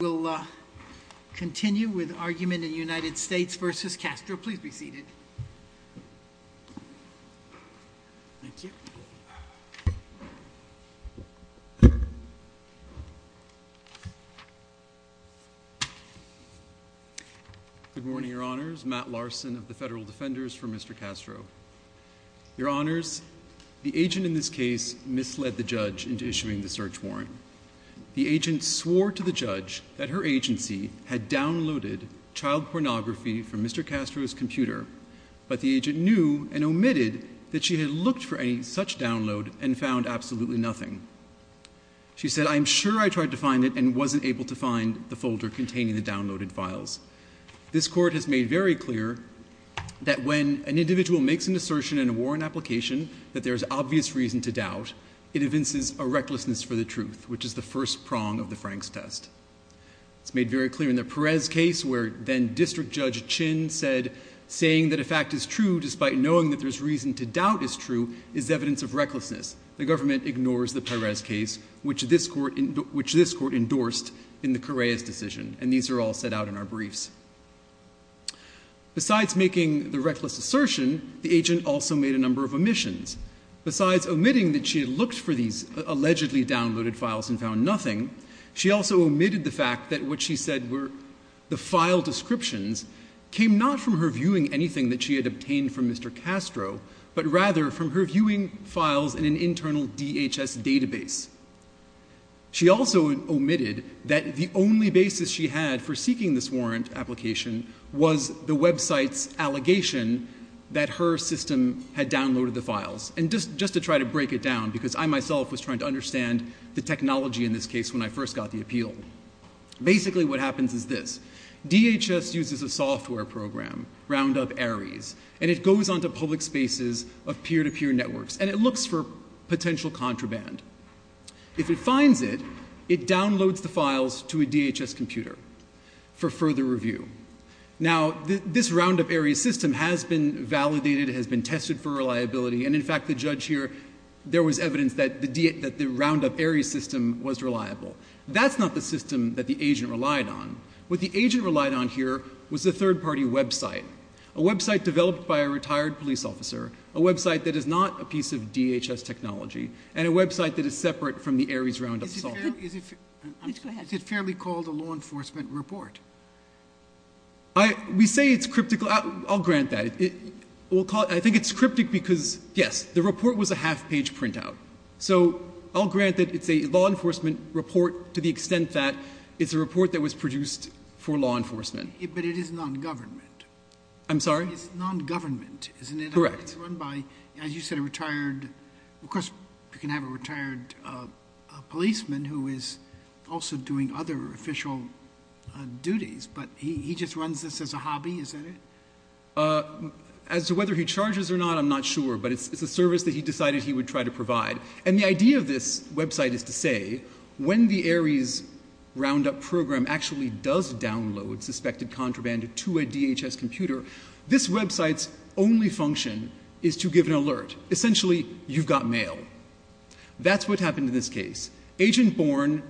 We'll, uh, continue with argument in United States v. Castro. Please be seated. Thank you. Good morning, Your Honors. Matt Larson of the Federal Defenders for Mr. Castro. Your Honors, the agent in this case misled the judge into issuing the search warrant. The agent swore to the judge that her agency had downloaded child pornography from Mr. Castro's computer, but the agent knew and omitted that she had looked for any such download and found absolutely nothing. She said, I'm sure I tried to find it and wasn't able to find the folder containing the downloaded files. This court has made very clear that when an individual makes an assertion in a warrant application that there's obvious reason to doubt, it evinces a recklessness for the truth, which is the first prong of the Frank's test. It's made very clear in the Perez case where then District Judge Chin said, saying that a fact is true despite knowing that there's reason to doubt is true, is evidence of recklessness. The government ignores the Perez case, which this court endorsed in the Correia's decision. And these are all set out in our briefs. Besides making the reckless assertion, the agent also made a number of omissions. Besides omitting that she had looked for these allegedly downloaded files and found nothing, she also omitted the fact that what she said were the file descriptions came not from her viewing anything that she had obtained from Mr. Castro, but rather from her viewing files in an internal DHS database. She also omitted that the only basis she had for seeking this warrant application was the website's allegation that her system had downloaded the files. And just to try to break it down, because I myself was trying to understand the technology in this case when I first got the appeal. Basically what happens is this. DHS uses a software program, Roundup Ares, and it goes on to public spaces of peer-to-peer networks, and it looks for potential contraband. If it finds it, it downloads the files to a DHS computer for further review. Now, this Roundup Ares system has been validated, has been tested for reliability, and in fact, the judge here, there was evidence that the Roundup Ares system was reliable. That's not the system that the agent relied on. What the agent relied on here was a third-party website, a website developed by a retired police officer, a website that is not a piece of DHS technology, and a website that is separate from the Ares Roundup software. Is it fairly called a law enforcement report? We say it's cryptical. I'll grant that. I think it's cryptic because, yes, the report was a half-page printout. So I'll grant that it's a law enforcement report to the extent that it's a report that was produced for law enforcement. But it is non-government. I'm sorry? It's non-government, isn't it? Correct. It's run by, as you said, a retired, of course, you can have a retired policeman who is also doing other official duties, but he just runs this as a hobby, is that it? As to whether he charges or not, I'm not sure, but it's a service that he decided he would try to provide. And the idea of this website is to say, when the Ares Roundup program actually does download suspected contraband to a DHS computer, this website's only function is to give an alert. Essentially, you've got mail. That's what happened in this case. Agent Bourne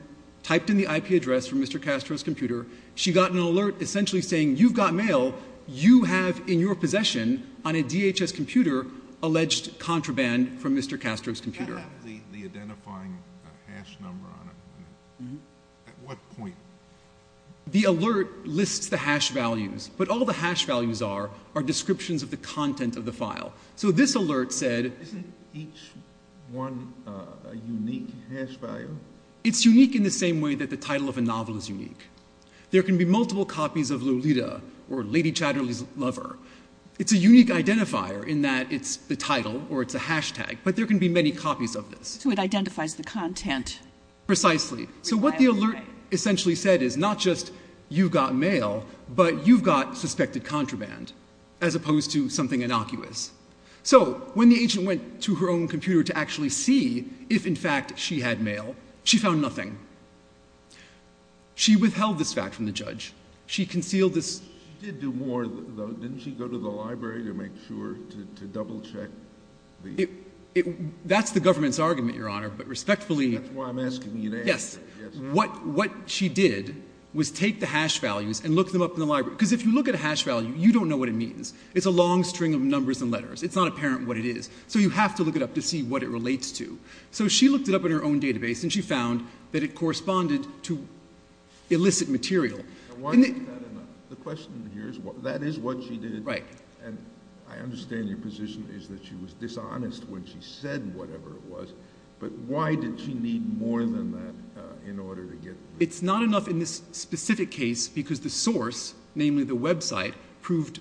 typed in the IP address for Mr. Castro's computer. She got an alert essentially saying, you've got mail. You have in your possession on a DHS computer alleged contraband from Mr. Castro's computer. How about the identifying hash number on it? At what point? The alert lists the hash values, but all the hash values are are descriptions of the content of the file. So this alert said... Isn't each one a unique hash value? There can be multiple copies of Lolita or Lady Chatterley's Lover. It's a unique identifier in that it's the title or it's a hashtag, but there can be many copies of this. So it identifies the content. Precisely. So what the alert essentially said is not just, you've got mail, but you've got suspected contraband, as opposed to something innocuous. So when the agent went to her own computer to actually see if, in fact, she had mail, she found nothing. She withheld this fact from the judge. She concealed this... She did do more, though. Didn't she go to the library to make sure to double-check the... That's the government's argument, Your Honor, but respectfully... That's why I'm asking you to answer it. Yes. What she did was take the hash values and look them up in the library. Because if you look at a hash value, you don't know what it means. It's a long string of numbers and letters. It's not apparent what it is. So you have to look it up to see what it relates to. So she looked it up in her own database, and she found that it contained a hash number. And it corresponded to illicit material. Now, why is that enough? The question here is, that is what she did. Right. And I understand your position is that she was dishonest when she said whatever it was. But why did she need more than that in order to get... It's not enough in this specific case because the source, namely the website, proved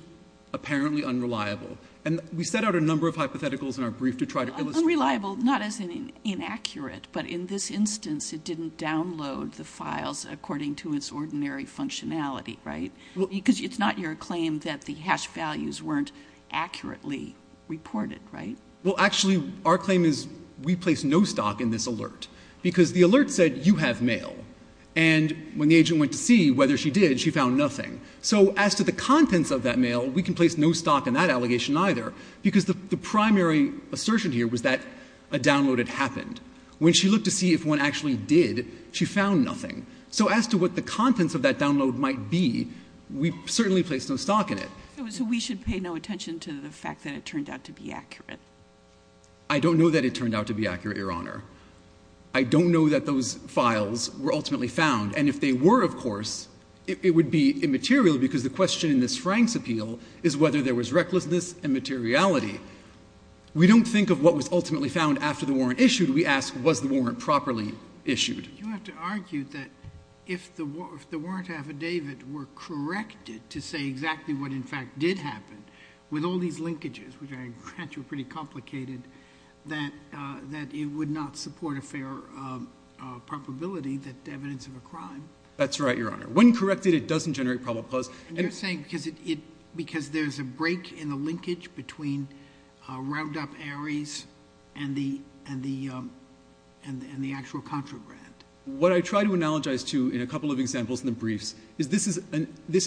apparently unreliable. And we set out a number of hypotheticals in our brief to try to illustrate... Unreliable, not as in inaccurate, but in this instance, it didn't download the files according to its ordinary functionality. Right. Because it's not your claim that the hash values weren't accurately reported. Right. Well, actually, our claim is we place no stock in this alert because the alert said you have mail. And when the agent went to see whether she did, she found nothing. So as to the contents of that mail, we can place no stock in that allegation either. Because the primary assertion here was that a download had happened. When she looked to see if one actually did, she found nothing. So as to what the contents of that download might be, we certainly place no stock in it. So we should pay no attention to the fact that it turned out to be accurate. I don't know that it turned out to be accurate, Your Honor. I don't know that those files were ultimately found. And if they were, of course, it would be immaterial because the question in this Frank's appeal is whether there was recklessness and materiality. We don't think of what was ultimately found after the warrant issued. We ask, was the warrant properly issued? You have to argue that if the warrant affidavit were corrected to say exactly what in fact did happen, with all these linkages, which I grant you are pretty complicated, that it would not support a fair probability that evidence of a crime. That's right, Your Honor. When corrected, it doesn't generate probable cause. And you're saying because there's a break in the linkage between Roundup Aries and the actual contraband. What I try to analogize to in a couple of examples in the briefs is this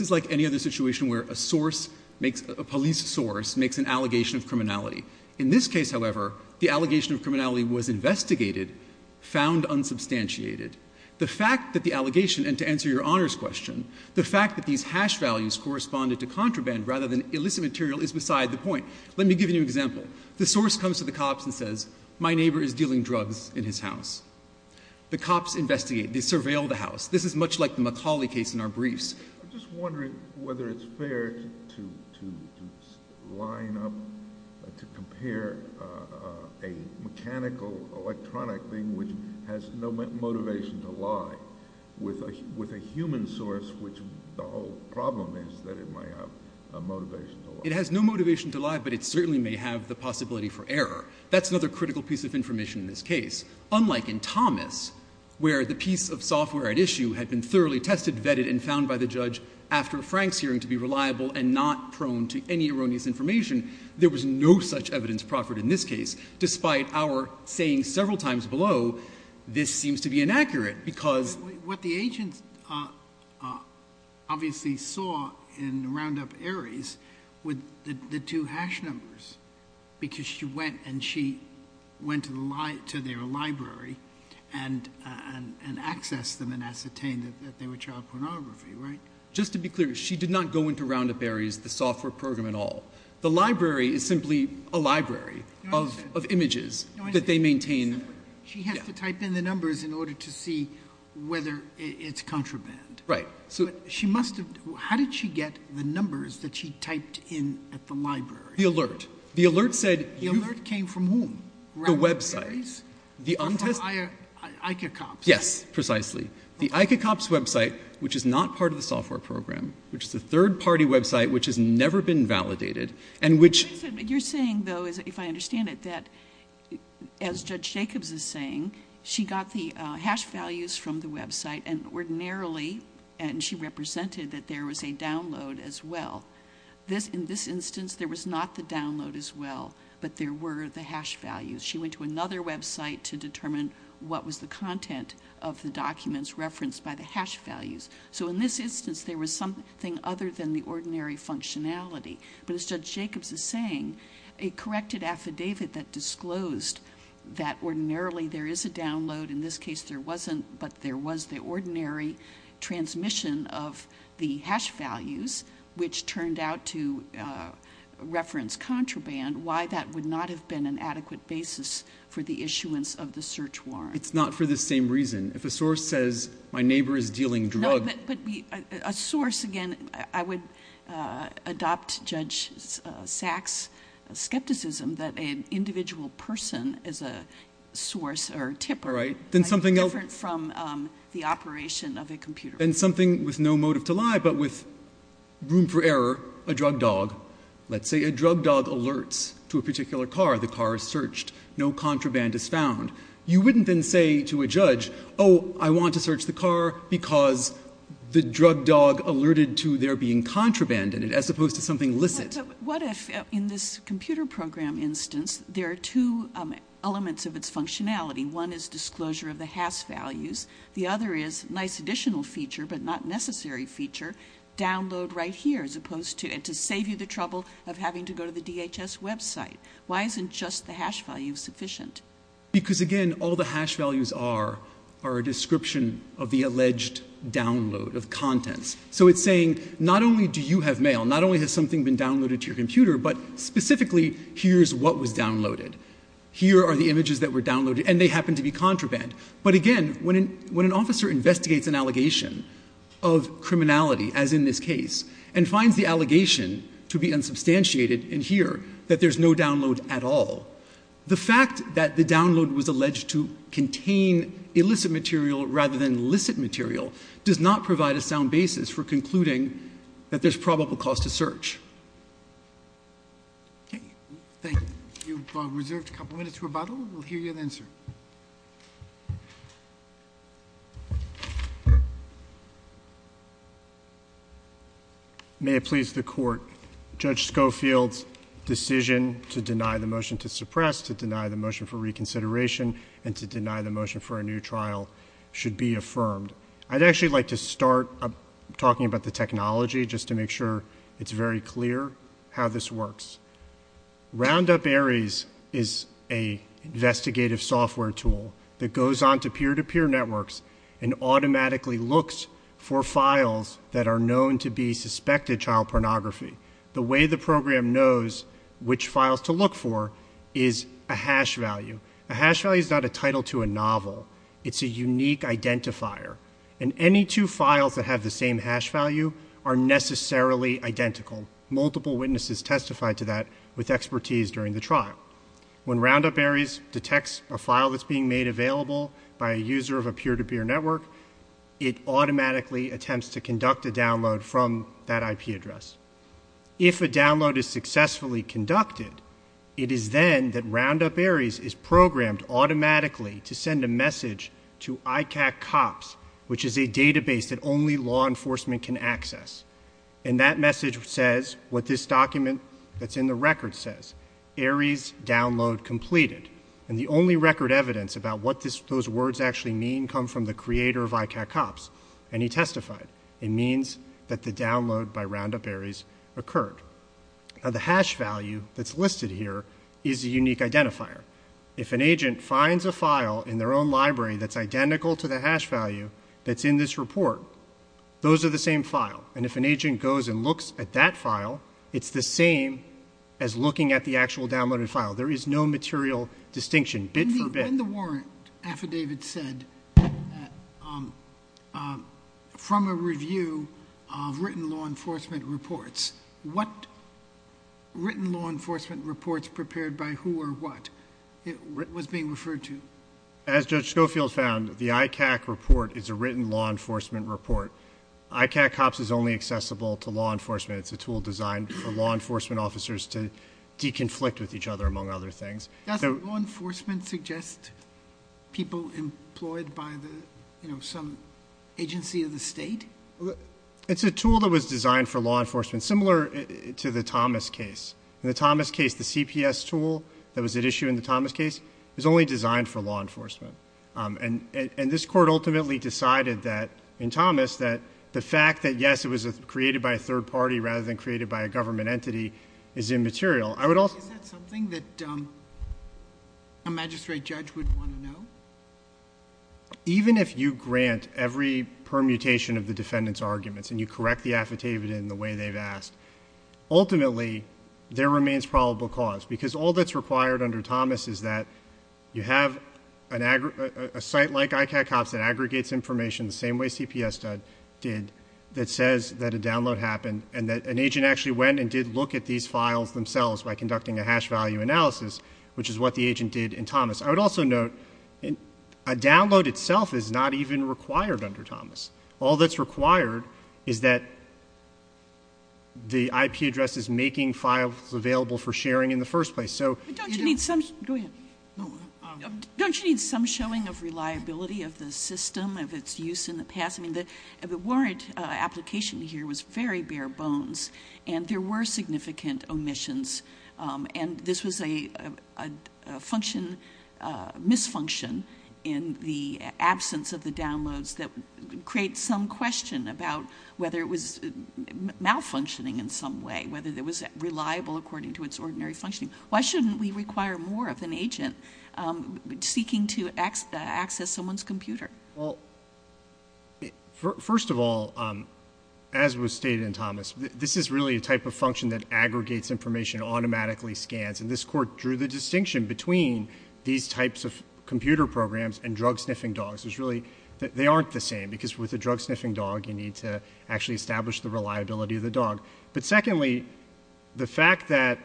is like any other situation where a source makes, a police source makes an allegation of criminality. In this case, however, the allegation of criminality was investigated, found unsubstantiated. The fact that the allegation, and to answer Your Honor's question, the fact that these hash values corresponded to contraband rather than illicit material is beside the point. Let me give you an example. The source comes to the cops and says, my neighbor is dealing drugs in his house. The cops investigate. They surveil the house. This is much like the McCauley case in our briefs. I'm just wondering whether it's fair to line up, to compare a mechanical, electronic thing which has no motivation to lie with a human source, which the whole problem is that it might have a motivation to lie. It has no motivation to lie, but it certainly may have the possibility for error. That's another critical piece of information in this case. Unlike in Thomas, where the piece of software at issue had been thoroughly tested, vetted, and found by the judge after Frank's hearing to be reliable and not prone to any erroneous information, there was no such evidence proffered in this case. Despite our saying several times below, this seems to be inaccurate because... Obviously saw in Roundup Aries with the two hash numbers because she went and she went to their library and accessed them and ascertained that they were child pornography, right? Just to be clear, she did not go into Roundup Aries, the software program at all. The library is simply a library of images that they maintain. She has to type in the numbers in order to see whether it's contraband. Right. So she must have... How did she get the numbers that she typed in at the library? The alert. The alert said... The alert came from whom? The website. Roundup Aries? The untested... ICACOPS. Yes, precisely. The ICACOPS website, which is not part of the software program, which is a third party website, which has never been validated, and which... You're saying though, if I understand it, that as Judge Jacobs is saying, she got the hash values from the website and ordinarily, and she represented that there was a download as well. In this instance, there was not the download as well, but there were the hash values. She went to another website to determine what was the content of the documents referenced by the hash values. So in this instance, there was something other than the ordinary functionality. But as Judge Jacobs is saying, a corrected affidavit that disclosed that ordinarily, there is a download. In this case, there wasn't, but there was the ordinary transmission of the hash values, which turned out to reference contraband. Why that would not have been an adequate basis for the issuance of the search warrant. It's not for the same reason. If a source says, my neighbor is dealing drug... But a source, again, I would adopt Judge Sachs' skepticism that an individual person is a source or a tipper, different from the operation of a computer. And something with no motive to lie, but with room for error, a drug dog. Let's say a drug dog alerts to a particular car. The car is searched. No contraband is found. You wouldn't then say to a judge, oh, I want to search the car because the drug dog alerted to there being contraband in it, as opposed to something licit. What if in this computer program instance, there are two elements of its functionality. One is disclosure of the hash values. The other is nice additional feature, but not necessary feature. Download right here, as opposed to it to save you the trouble of having to go to the DHS website. Why isn't just the hash value sufficient? Because again, all the hash values are a description of the alleged download of contents. So it's saying, not only do you have mail, not only has something been downloaded to your computer, but specifically, here's what was downloaded. Here are the images that were downloaded, and they happen to be contraband. But again, when an officer investigates an allegation of criminality, as in this case, and finds the allegation to be unsubstantiated in here, that there's no download at all. The fact that the download was alleged to contain illicit material, rather than licit material, does not provide a sound basis for concluding that there's probable cause to search. Thank you. You've reserved a couple minutes for rebuttal. We'll hear you then, sir. May it please the Court, Judge Schofield's decision to deny the motion to suppress, to deny the motion for reconsideration, and to deny the motion for a new trial should be affirmed. I'd actually like to start talking about the technology, just to make sure it's very clear how this works. Roundup Ares is an investigative software tool that goes on to peer-to-peer networks and automatically looks for files that are known to be suspected child pornography. The way the program knows which files to look for is a hash value. A hash value is not a title to a novel. It's a unique identifier. And any two files that have the same hash value are necessarily identical. Multiple witnesses testified to that with expertise during the trial. When Roundup Ares detects a file that's being made available by a user of a peer-to-peer network, it automatically attempts to conduct a download from that IP address. If a download is successfully conducted, it is then that Roundup Ares is programmed automatically to send a message to ICAC COPS, which is a database that only law enforcement can access. And that message says what this document that's in the record says, Ares download completed. And the only record evidence about what those words actually mean come from the creator of ICAC COPS, and he testified. It means that the download by Roundup Ares occurred. Now the hash value that's listed here is a unique identifier. If an agent finds a file in their own library that's identical to the hash value that's in this report, those are the same file. And if an agent goes and looks at that file, it's the same as looking at the actual downloaded file. There is no material distinction, bit for bit. When the warrant affidavit said, from a review of written law enforcement reports, what written law enforcement reports prepared by who or what was being referred to? As Judge Schofield found, the ICAC report is a written law enforcement report. ICAC COPS is only accessible to law enforcement. It's a tool designed for law enforcement officers to de-conflict with each other, among other things. Does law enforcement suggest people employed by some agency of the state? It's a tool that was designed for law enforcement, similar to the Thomas case. In the Thomas case, the CPS tool that was at issue in the Thomas case was only designed for law enforcement. And this court ultimately decided that, in Thomas, that the fact that yes, it was created by a third party rather than created by a government entity is immaterial. I would also- Is that something that a magistrate judge would want to know? Even if you grant every permutation of the defendant's arguments and you correct the affidavit in the way they've asked, ultimately, there remains probable cause. Because all that's required under Thomas is that you have a site like ICAC COPS that aggregates information the same way CPS did, that says that a download happened and that an agent actually went and did look at these files themselves by conducting a hash value analysis, which is what the agent did in Thomas. I would also note, a download itself is not even required under Thomas. All that's required is that the IP address is making files available for sharing in the first place. So- But don't you need some- go ahead. Don't you need some showing of reliability of the system, of its use in the past? I mean, the warrant application here was very bare bones and there were significant omissions. And this was a function- misfunction in the absence of the downloads that creates some question about whether it was malfunctioning in some way, whether it was reliable according to its ordinary functioning. Why shouldn't we require more of an agent seeking to access someone's computer? Well, first of all, as was stated in Thomas, this is really a type of function that aggregates information, automatically scans. And this court drew the distinction between these types of computer programs and drug-sniffing dogs. There's really- they aren't the same because with a drug-sniffing dog, you need to actually establish the reliability of the dog. But secondly, the fact that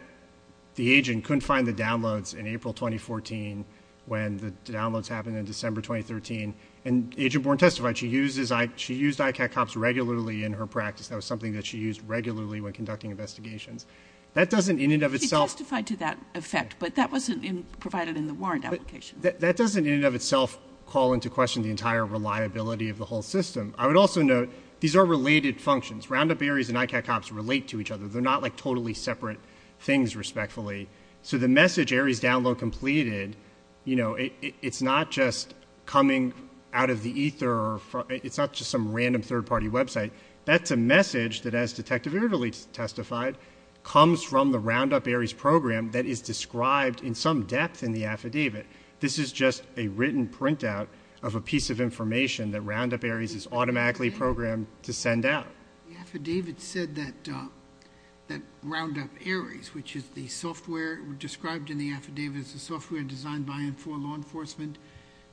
the agent couldn't find the downloads in April 2014 when the downloads happened in December 2013, and Agent Bourne testified, she used ICAT cops regularly in her practice. That was something that she used regularly when conducting investigations. That doesn't in and of itself- He testified to that effect, but that wasn't provided in the warrant application. That doesn't in and of itself call into question the entire reliability of the whole system. I would also note, these are related functions. Roundup Aries and ICAT cops relate to each other. They're not like totally separate things, respectfully. So the message, Aries download completed, you know, it's not just coming out of the ether, it's not just some random third-party website. That's a message that, as Detective Irvely testified, comes from the Roundup Aries program that is described in some depth in the affidavit. This is just a written printout of a piece of information that Roundup Aries is automatically programmed to send out. The affidavit said that Roundup Aries, which is the software described in the affidavit, it's the software designed by and for law enforcement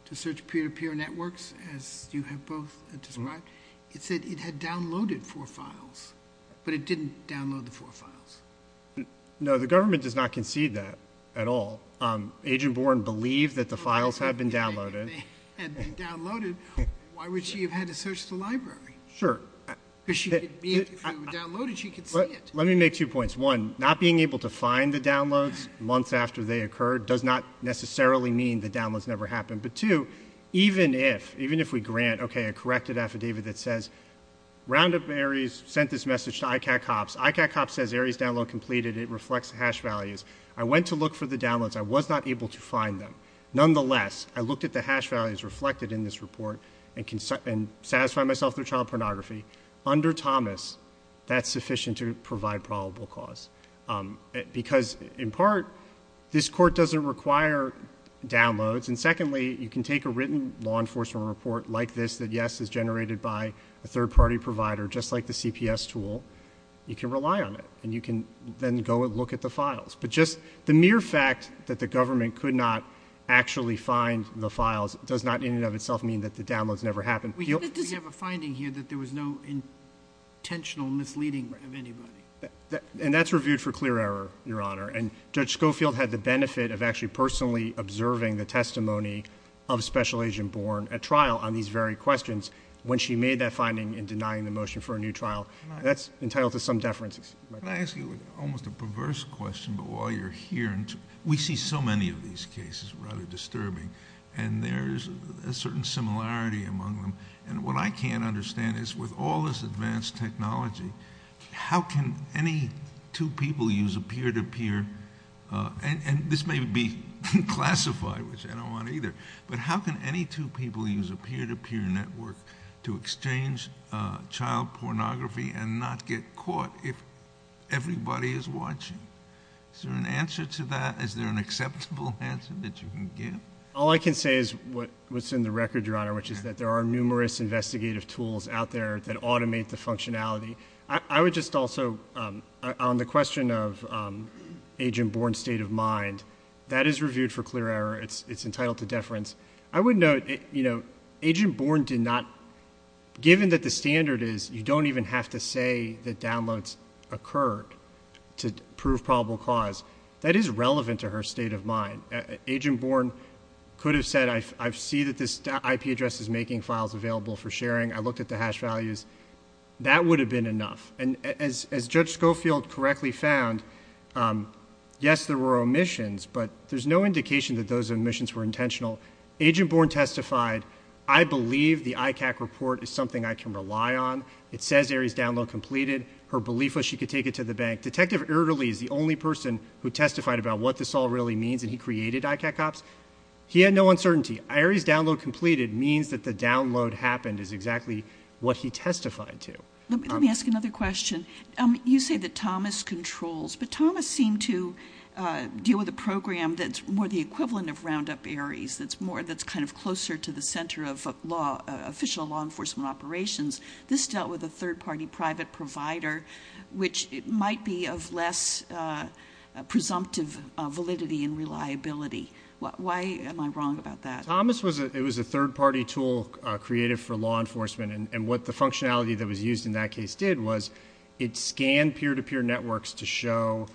to search peer-to-peer networks, as you have both described, it said it had downloaded four files, but it didn't download the four files. No, the government does not concede that at all. Agent Bourne believed that the files had been downloaded. Had been downloaded. Why would she have had to search the library? Sure. Because if they were downloaded, she could see it. Let me make two points. One, not being able to find the downloads months after they occurred does not necessarily mean the downloads never happened. But two, even if we grant, okay, a corrected affidavit that says, Roundup Aries sent this message to ICAC Ops. ICAC Ops says Aries download completed. It reflects the hash values. I went to look for the downloads. I was not able to find them. Nonetheless, I looked at the hash values reflected in this report and satisfy myself their child pornography. Under Thomas, that's sufficient to provide probable cause. Because, in part, this Court doesn't require downloads. And secondly, you can take a written law enforcement report like this that, yes, is generated by a third-party provider, just like the CPS tool. You can rely on it. And you can then go and look at the files. But just the mere fact that the government could not actually find the files does not in and of itself mean that the downloads never happened. We have a finding here that there was no intentional misleading of anybody. And that's reviewed for clear error, Your Honor. And Judge Schofield had the benefit of actually personally observing the testimony of Special Agent Bourne at trial on these very questions when she made that finding in denying the motion for a new trial. That's entitled to some deference. Can I ask you almost a perverse question? But while you're here, we see so many of these cases, rather disturbing. And there's a certain similarity among them. And what I can't understand is, with all this advanced technology, how can any two people use a peer-to-peer? And this may be classified, which I don't want either. But how can any two people use a peer-to-peer network to exchange child pornography and not get caught if everybody is watching? Is there an answer to that? Is there an acceptable answer that you can give? All I can say is what's in the record, Your Honor, which is that there are numerous investigative tools out there that automate the functionality. I would just also, on the question of Agent Bourne's state of mind, that is reviewed for clear error. It's entitled to deference. I would note, you know, Agent Bourne did not, given that the standard is, you don't even have to say that downloads occurred to prove probable cause. That is relevant to her state of mind. Agent Bourne could have said, I see that this IP address is making files available for sharing. I looked at the hash values. That would have been enough. And as Judge Schofield correctly found, yes, there were omissions, but there's no indication that those omissions were intentional. Agent Bourne testified, I believe the ICAC report is something I can rely on. It says Aerie's download completed. Her belief was she could take it to the bank. Detective Erderly is the only person who testified about what this all really means, and he created ICAC Ops. He had no uncertainty. Aerie's download completed means that the download happened is exactly what he testified to. Let me ask another question. You say that Thomas controls, but Thomas seemed to deal with a program that's more the equivalent of Roundup Aerie's, that's more, that's kind of closer to the center of law, official law enforcement operations. This dealt with a third-party private provider, which might be of less presumptive validity and reliability. Why am I wrong about that? Thomas was a third-party tool created for law enforcement, and what the functionality that was used in that case did was it scanned peer-to-peer networks to show,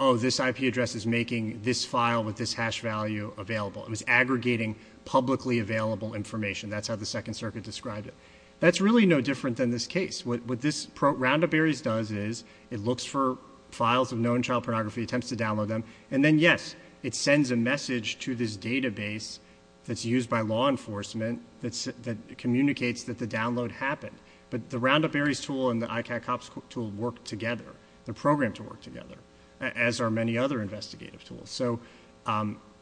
oh, this IP address is making this file with this hash value available. It was aggregating publicly available information. That's how the Second Circuit described it. That's really no different than this case. What this Roundup Aerie's does is it looks for files of known child pornography, attempts to download them, and then, yes, it sends a message to this database that's used by law enforcement that communicates that the download happened. But the Roundup Aerie's tool and the ICAC Ops tool work together, they're programmed to work together, as are many other investigative tools. So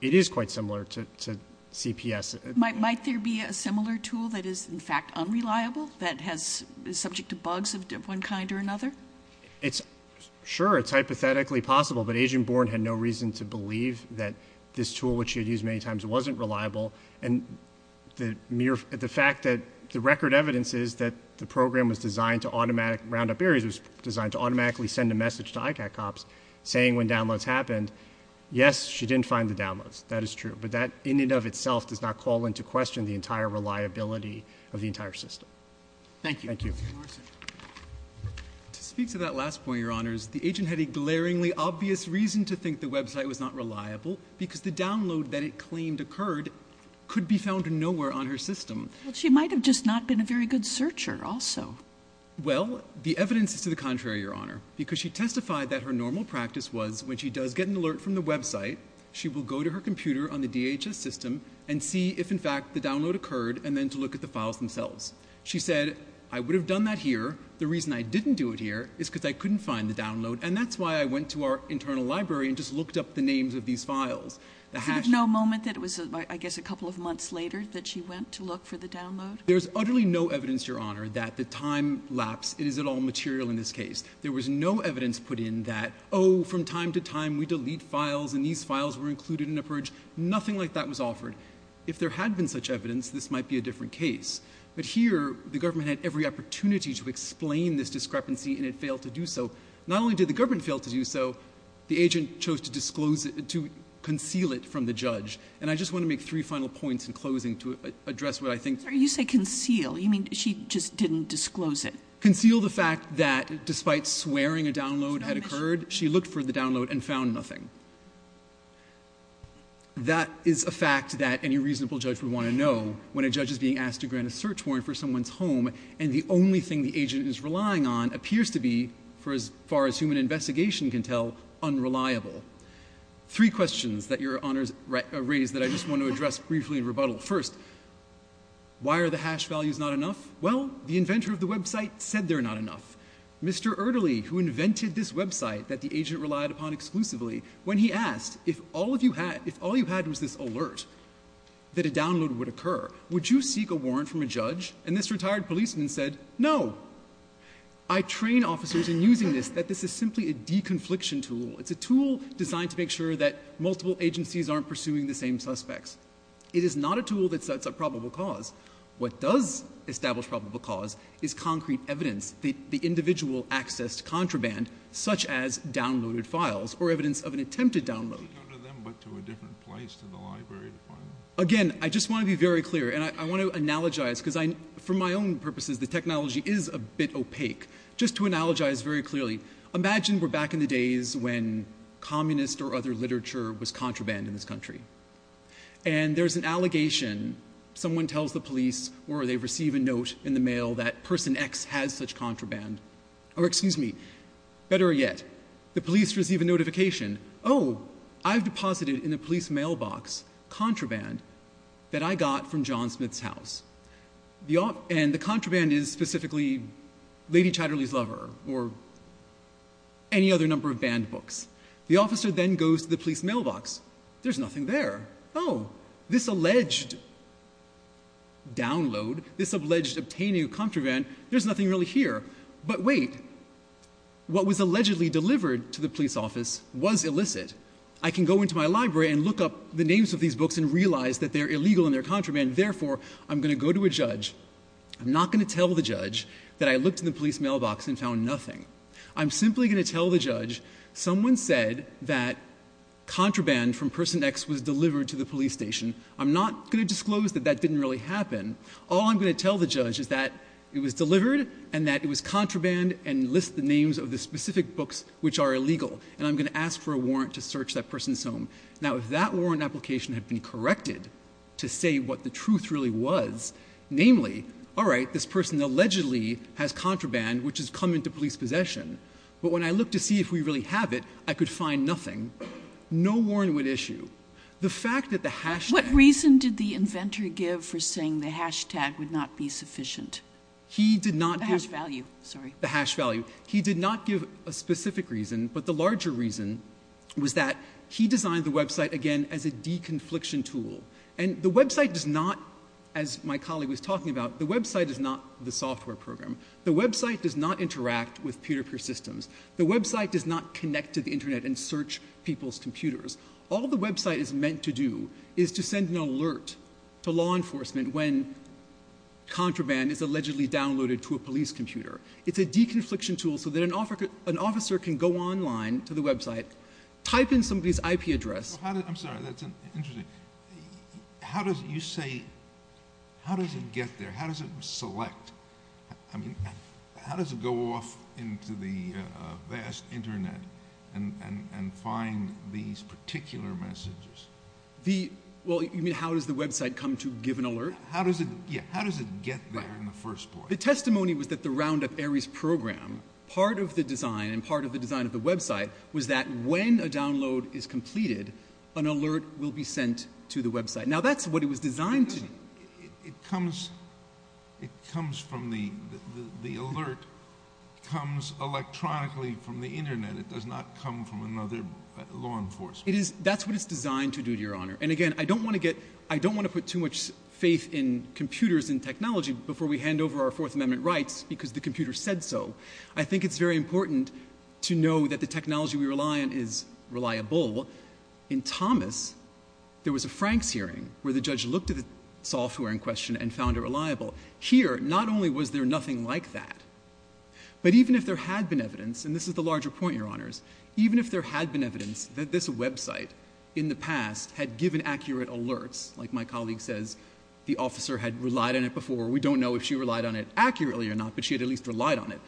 it is quite similar to CPS. Might there be a similar tool that is, in fact, unreliable, that is subject to bugs of one kind or another? Sure, it's hypothetically possible, but Agent Bourne had no reason to believe that this tool, which she had used many times, wasn't reliable. And the fact that the record evidence is that the program was designed to automatically— Roundup Aerie's was designed to automatically send a message to ICAC Ops That is true. But that, in and of itself, does not call into question the entire reliability of the entire system. Thank you. Thank you. To speak to that last point, Your Honors, the agent had a glaringly obvious reason to think the website was not reliable, because the download that it claimed occurred could be found nowhere on her system. She might have just not been a very good searcher, also. Well, the evidence is to the contrary, Your Honor, because she testified that her normal practice was when she does get an alert from the website, she will go to her computer on the DHS system and see if, in fact, the download occurred, and then to look at the files themselves. She said, I would have done that here. The reason I didn't do it here is because I couldn't find the download, and that's why I went to our internal library and just looked up the names of these files. There was no moment that it was, I guess, a couple of months later that she went to look for the download? There's utterly no evidence, Your Honor, that the time lapse is at all material in this case. There was no evidence put in that, oh, from time to time, we delete files, and these files were included in a purge. Nothing like that was offered. If there had been such evidence, this might be a different case. But here, the government had every opportunity to explain this discrepancy, and it failed to do so. Not only did the government fail to do so, the agent chose to disclose it, to conceal it from the judge. And I just want to make three final points in closing to address what I think... You say conceal. You mean she just didn't disclose it? Conceal the fact that, despite swearing a download had occurred, she looked for the download and found nothing. That is a fact that any reasonable judge would want to know when a judge is being asked to grant a search warrant for someone's home and the only thing the agent is relying on appears to be, for as far as human investigation can tell, unreliable. Three questions that Your Honor has raised that I just want to address briefly in rebuttal. First, why are the hash values not enough? Well, the inventor of the website said they're not enough. Mr. Erderly, who invented this website that the agent relied upon exclusively, when he asked, if all you had was this alert that a download would occur, would you seek a warrant from a judge? And this retired policeman said, no. I train officers in using this that this is simply a de-confliction tool. It's a tool designed to make sure that multiple agencies aren't pursuing the same suspects. It is not a tool that sets up probable cause. What does establish probable cause is concrete evidence. The individual access to contraband, such as downloaded files, or evidence of an attempted download. Could you go to them but to a different place, to the library to find them? Again, I just want to be very clear, and I want to analogize, because for my own purposes the technology is a bit opaque. Just to analogize very clearly, imagine we're back in the days when communist or other literature was contraband in this country. And there's an allegation, someone tells the police, or they receive a note in the mail, that person X has such contraband. Or excuse me, better yet, the police receive a notification. Oh, I've deposited in a police mailbox contraband that I got from John Smith's house. And the contraband is specifically Lady Chatterley's Lover, or any other number of banned books. The officer then goes to the police mailbox. There's nothing there. Oh, this alleged download, this alleged obtaining of contraband, there's nothing really here. But wait, what was allegedly delivered to the police office was illicit. I can go into my library and look up the names of these books and realize that they're illegal and they're contraband. Therefore, I'm going to go to a judge. I'm not going to tell the judge that I looked in the police mailbox and found nothing. I'm simply going to tell the judge, someone said that contraband from person X was delivered to the police station. I'm not going to disclose that that didn't really happen. All I'm going to tell the judge is that it was delivered and that it was contraband and list the names of the specific books which are illegal. And I'm going to ask for a warrant to search that person's home. Now, if that warrant application had been corrected to say what the truth really was, namely, all right, this person allegedly has contraband which has come into police possession. But when I look to see if we really have it, I could find nothing. No warrant would issue. The fact that the hashtag... What reason did the inventor give for saying the hashtag would not be sufficient? He did not... The hash value, sorry. The hash value. He did not give a specific reason, but the larger reason was that he designed the website again as a deconfliction tool. And the website does not, as my colleague was talking about, the website is not the software program. The website does not interact with peer-to-peer systems. The website does not connect to the internet and search people's computers. All the website is meant to do is to send an alert to law enforcement when contraband is allegedly downloaded to a police computer. It's a deconfliction tool so that an officer can go online to the website, type in somebody's IP address... I'm sorry, that's interesting. How does it get there? How does it select? I mean, how does it go off into the vast internet and find these particular messages? The... Well, you mean how does the website come to give an alert? How does it... Yeah, how does it get there in the first place? The testimony was that the Roundup Ares program, part of the design and part of the design of the website was that when a download is completed, an alert will be sent to the website. Now, that's what it was designed to do. It comes... It comes from the... The alert comes electronically from the internet. It does not come from another law enforcement. That's what it's designed to do, Your Honour. And again, I don't want to get... I don't want to put too much faith in computers and technology before we hand over our Fourth Amendment rights because the computer said so. I think it's very important to know that the technology we rely on is reliable. In Thomas, there was a Franks hearing where the judge looked at the software in question and found it reliable. Here, not only was there nothing like that, but even if there had been evidence, and this is the larger point, Your Honours, even if there had been evidence that this website in the past had given accurate alerts, like my colleague says, the officer had relied on it before. We don't know if she relied on it accurately or not, but she had at least relied on it.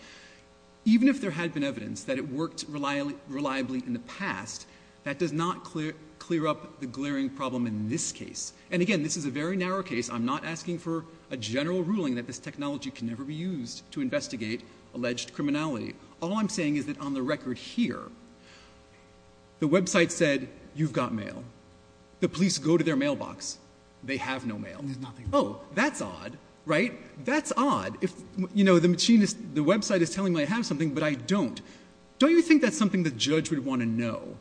Even if there had been evidence that it worked reliably in the past, that does not clear up the glaring problem in this case. And again, this is a very narrow case. I'm not asking for a general ruling that this technology can never be used to investigate alleged criminality. All I'm saying is that on the record here, the website said, you've got mail. The police go to their mailbox. They have no mail. Oh, that's odd, right? That's odd. You know, the website is telling me I have something, but I don't. Don't you think that's something the judge would want to know?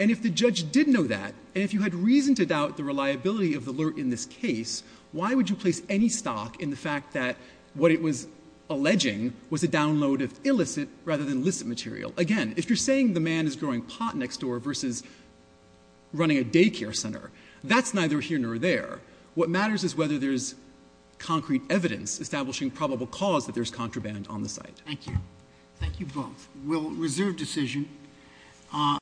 And if the judge did know that, and if you had reason to doubt the reliability of the alert in this case, why would you place any stock in the fact that what it was alleging was a download of illicit rather than licit material? Again, if you're saying the man is growing pot next door versus running a daycare center, that's neither here nor there. What matters is whether there's concrete evidence establishing probable cause that there's contraband on the site. Thank you. Thank you both. We'll reserve decision.